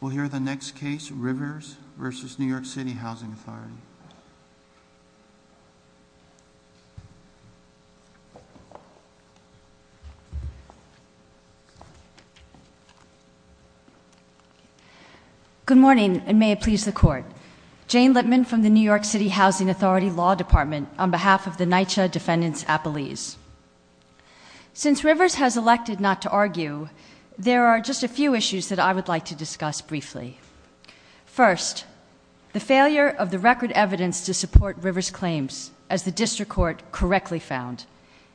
We'll hear the next case, Rivers v. New York City Housing Authority. Good morning, and may it please the Court. Jane Lippman from the New York City Housing Authority Law Department, on behalf of the NYCHA Defendants Appellees. Since Rivers has elected not to argue, there are just a few issues that I would like to discuss briefly. First, the failure of the record evidence to support Rivers' claims, as the District Court correctly found.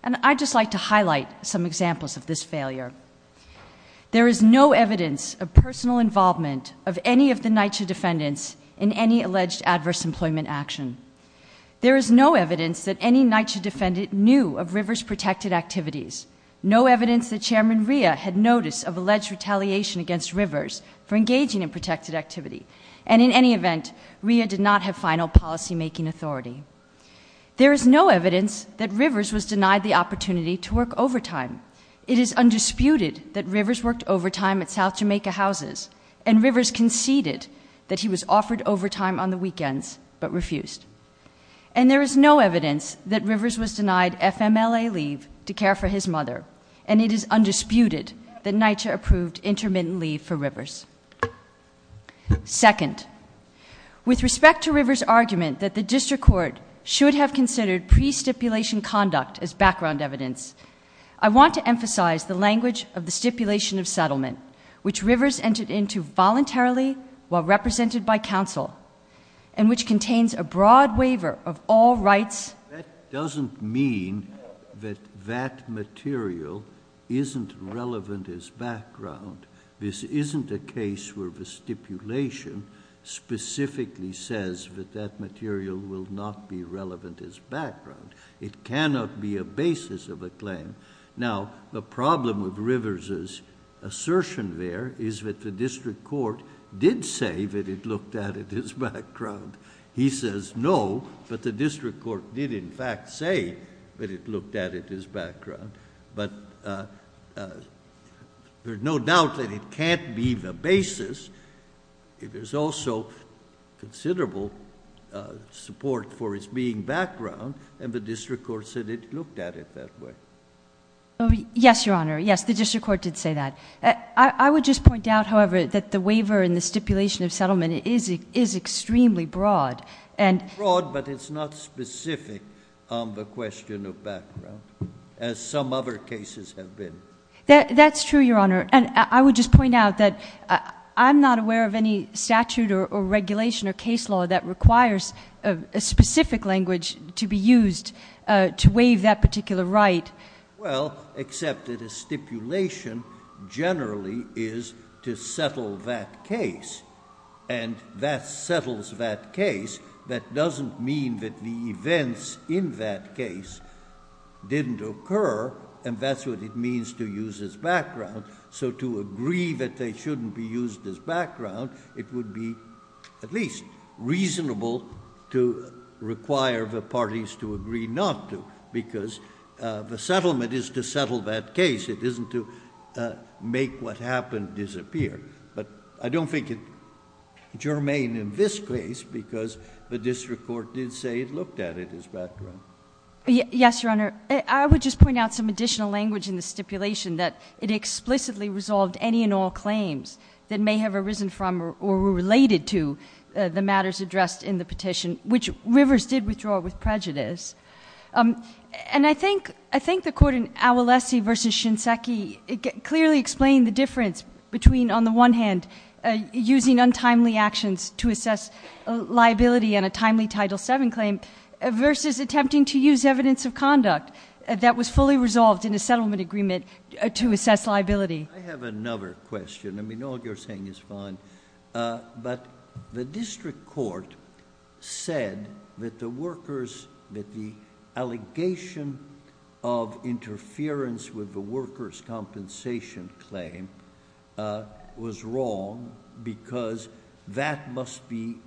And I'd just like to highlight some examples of this failure. There is no evidence of personal involvement of any of the NYCHA Defendants in any alleged adverse employment action. There is no evidence that any NYCHA Defendant knew of Rivers' protected activities. No evidence that Chairman Rhea had notice of alleged retaliation against Rivers for engaging in protected activity. And in any event, Rhea did not have final policymaking authority. There is no evidence that Rivers was denied the opportunity to work overtime. It is undisputed that Rivers worked overtime at South Jamaica Houses. And Rivers conceded that he was offered overtime on the weekends, but refused. And there is no evidence that Rivers was denied FMLA leave to care for his mother. And it is undisputed that NYCHA approved intermittent leave for Rivers. Second, with respect to Rivers' argument that the District Court should have considered pre-stipulation conduct as background evidence, I want to emphasize the language of the stipulation of settlement, which Rivers entered into voluntarily while represented by counsel, and which contains a broad waiver of all rights. That doesn't mean that that material isn't relevant as background. This isn't a case where the stipulation specifically says that that material will not be relevant as background. It cannot be a basis of a claim. Now, the problem with Rivers' assertion there is that the District Court did say that it looked at it as background. He says no, but the District Court did in fact say that it looked at it as background. But there's no doubt that it can't be the basis. There's also considerable support for its being background, and the District Court said it looked at it that way. Yes, Your Honor. Yes, the District Court did say that. I would just point out, however, that the waiver in the stipulation of settlement is extremely broad. It's broad, but it's not specific on the question of background, as some other cases have been. That's true, Your Honor. And I would just point out that I'm not aware of any statute or regulation or case law that requires a specific language to be used to waive that particular right. Well, except that a stipulation generally is to settle that case, and that settles that case. That doesn't mean that the events in that case didn't occur, and that's what it means to use as background. So to agree that they shouldn't be used as background, it would be at least reasonable to require the parties to agree not to, because the settlement is to settle that case. It isn't to make what happened disappear. But I don't think it germane in this case, because the District Court did say it looked at it as background. Yes, Your Honor. I would just point out some additional language in the stipulation that it explicitly resolved any and all claims that may have arisen from or were related to the matters addressed in the petition, which Rivers did withdraw with prejudice. And I think the court in Awolese v. Shinseki clearly explained the difference between, on the one hand, using untimely actions to assess liability on a timely Title VII claim versus attempting to use evidence of conduct that was fully resolved in a settlement agreement to assess liability. I have another question. I mean, all you're saying is fine. But the District Court said that the workers, that the allegation of interference with the workers' compensation claim was wrong, because that must be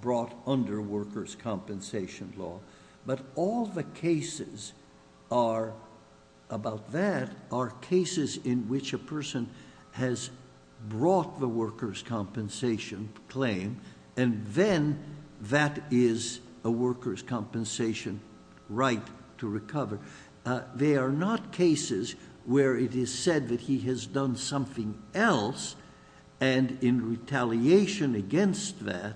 brought under workers' compensation law. But all the cases about that are cases in which a person has brought the workers' compensation claim, and then that is a workers' compensation right to recover. They are not cases where it is said that he has done something else, and in retaliation against that,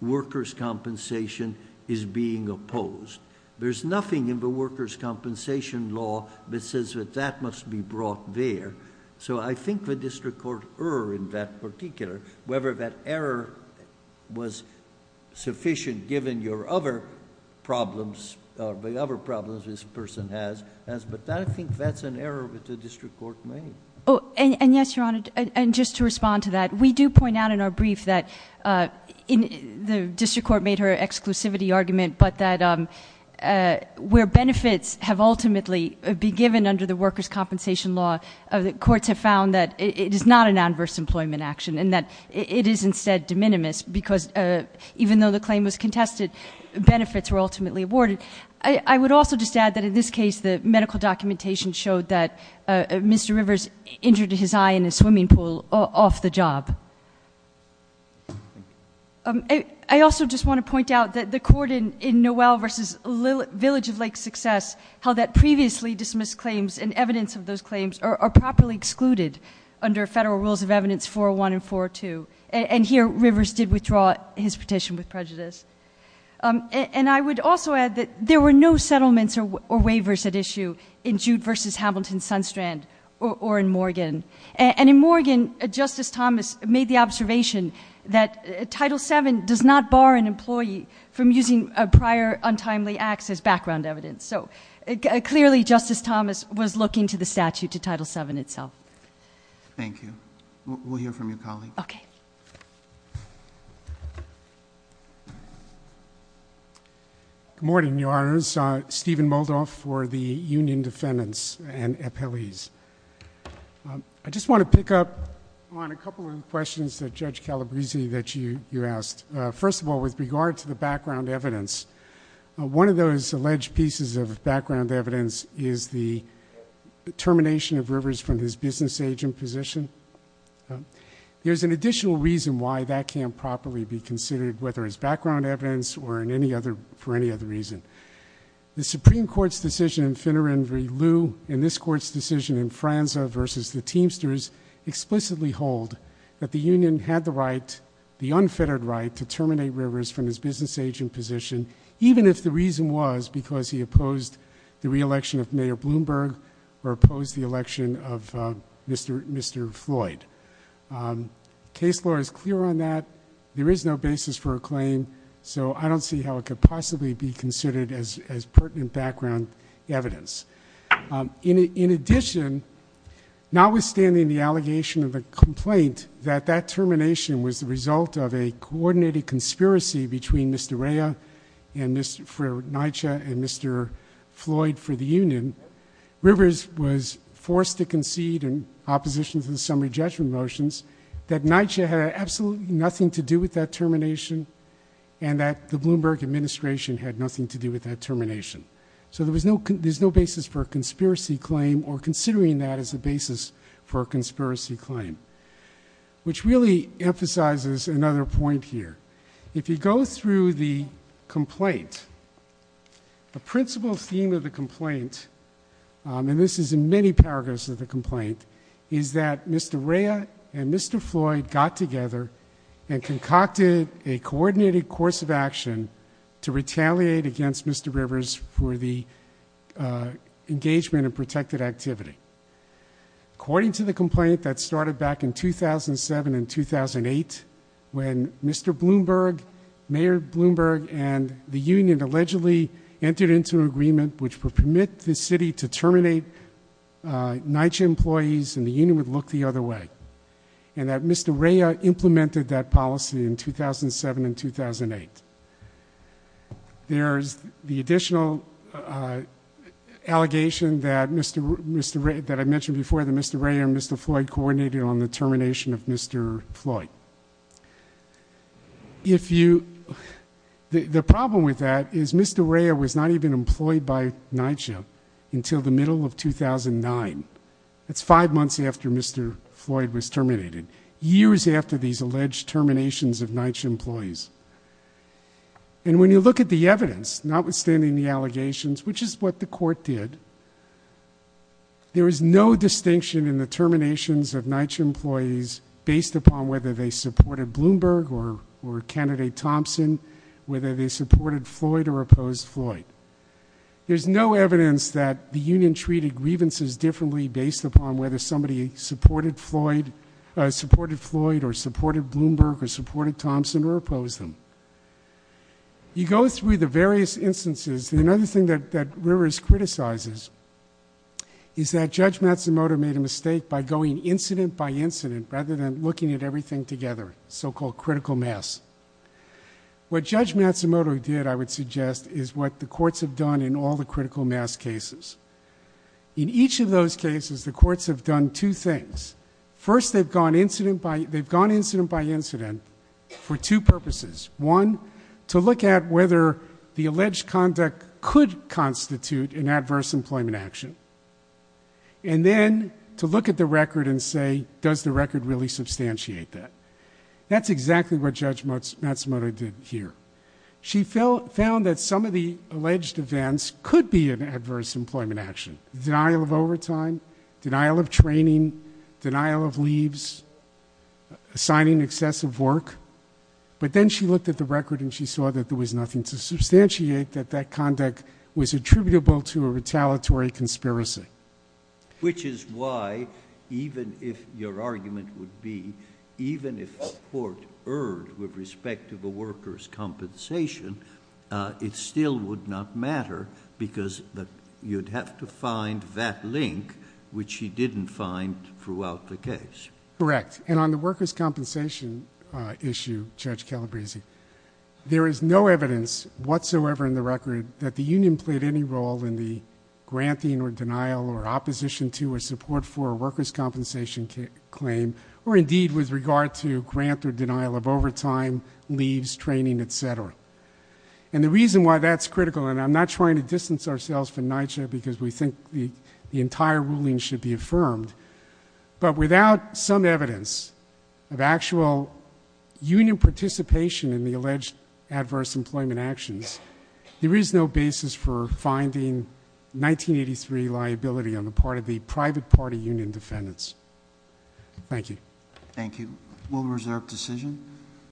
workers' compensation is being opposed. There's nothing in the workers' compensation law that says that that must be brought there. So I think the District Court erred in that particular, whether that error was sufficient, given your other problems or the other problems this person has. But I think that's an error that the District Court made. And yes, Your Honor, and just to respond to that, we do point out in our brief that the District Court made her exclusivity argument, but that where benefits have ultimately been given under the workers' compensation law, courts have found that it is not an adverse employment action and that it is instead de minimis, because even though the claim was contested, benefits were ultimately awarded. And I would also just add that in this case, the medical documentation showed that Mr. Rivers injured his eye in a swimming pool off the job. I also just want to point out that the court in Noel v. Village of Lake Success held that previously dismissed claims and evidence of those claims are properly excluded under federal rules of evidence 401 and 402, and here Rivers did withdraw his petition with prejudice. And I would also add that there were no settlements or waivers at issue in Jude v. Hamilton-Sunstrand or in Morgan. And in Morgan, Justice Thomas made the observation that Title VII does not bar an employee from using prior untimely acts as background evidence. So clearly Justice Thomas was looking to the statute, to Title VII itself. Thank you. We'll hear from your colleague. Okay. Good morning, Your Honors. Stephen Moldoff for the Union Defendants and Appellees. I just want to pick up on a couple of questions that Judge Calabresi that you asked. First of all, with regard to the background evidence, one of those alleged pieces of background evidence is the termination of Rivers from his business agent position. There's an additional reason why that can't properly be considered, whether it's background evidence or for any other reason. The Supreme Court's decision in Finneran v. Liu, and this Court's decision in Franza v. the Teamsters, explicitly hold that the Union had the unfettered right to terminate Rivers from his business agent position, even if the reason was because he opposed the re-election of Mayor Bloomberg or opposed the election of Mr. Floyd. Case law is clear on that. There is no basis for a claim, so I don't see how it could possibly be considered as pertinent background evidence. In addition, notwithstanding the allegation of the complaint that that termination was the result of a coordinated conspiracy between Mr. Rea for NYCHA and Mr. Floyd for the Union, Rivers was forced to concede in opposition to the summary judgment motions that NYCHA had absolutely nothing to do with that termination and that the Bloomberg administration had nothing to do with that termination. So there's no basis for a conspiracy claim or considering that as a basis for a conspiracy claim, which really emphasizes another point here. If you go through the complaint, the principal theme of the complaint, and this is in many paragraphs of the complaint, is that Mr. Rea and Mr. Floyd got together and concocted a coordinated course of action to retaliate against Mr. Rivers for the engagement of protected activity. According to the complaint that started back in 2007 and 2008, when Mr. Bloomberg, Mayor Bloomberg, and the Union allegedly entered into an agreement which would permit the city to terminate NYCHA employees and the Union would look the other way, and that Mr. Rea implemented that policy in 2007 and 2008. There's the additional allegation that I mentioned before that Mr. Rea and Mr. Floyd coordinated on the termination of Mr. Floyd. The problem with that is Mr. Rea was not even employed by NYCHA until the middle of 2009. That's five months after Mr. Floyd was terminated, years after these alleged terminations of NYCHA employees. And when you look at the evidence, notwithstanding the allegations, which is what the court did, there is no distinction in the terminations of NYCHA employees based upon whether they supported Bloomberg or Candidate Thompson, whether they supported Floyd or opposed Floyd. There's no evidence that the Union treated grievances differently based upon whether somebody supported Floyd or supported Bloomberg or supported Thompson or opposed them. You go through the various instances, and another thing that Rivers criticizes is that Judge Matsumoto made a mistake by going incident by incident rather than looking at everything together, so-called critical mass. What Judge Matsumoto did, I would suggest, is what the courts have done in all the critical mass cases. In each of those cases, the courts have done two things. First, they've gone incident by incident for two purposes. One, to look at whether the alleged conduct could constitute an adverse employment action. And then, to look at the record and say, does the record really substantiate that? That's exactly what Judge Matsumoto did here. She found that some of the alleged events could be an adverse employment action. Denial of overtime, denial of training, denial of leaves, signing excessive work. But then she looked at the record, and she saw that there was nothing to substantiate that that conduct was attributable to a retaliatory conspiracy. Which is why, even if your argument would be, even if the court erred with respect to the workers' compensation, it still would not matter because you'd have to find that link, which she didn't find throughout the case. Correct. And on the workers' compensation issue, Judge Calabresi, there is no evidence whatsoever in the record that the union played any role in the granting or denial or opposition to or support for a workers' compensation claim, or indeed with regard to grant or denial of overtime, leaves, training, et cetera. And the reason why that's critical, and I'm not trying to distance ourselves from NYCHA because we think the entire ruling should be affirmed, but without some evidence of actual union participation in the alleged adverse employment actions, there is no basis for finding 1983 liability on the part of the private party union defendants. Thank you. Thank you. We'll reserve decision.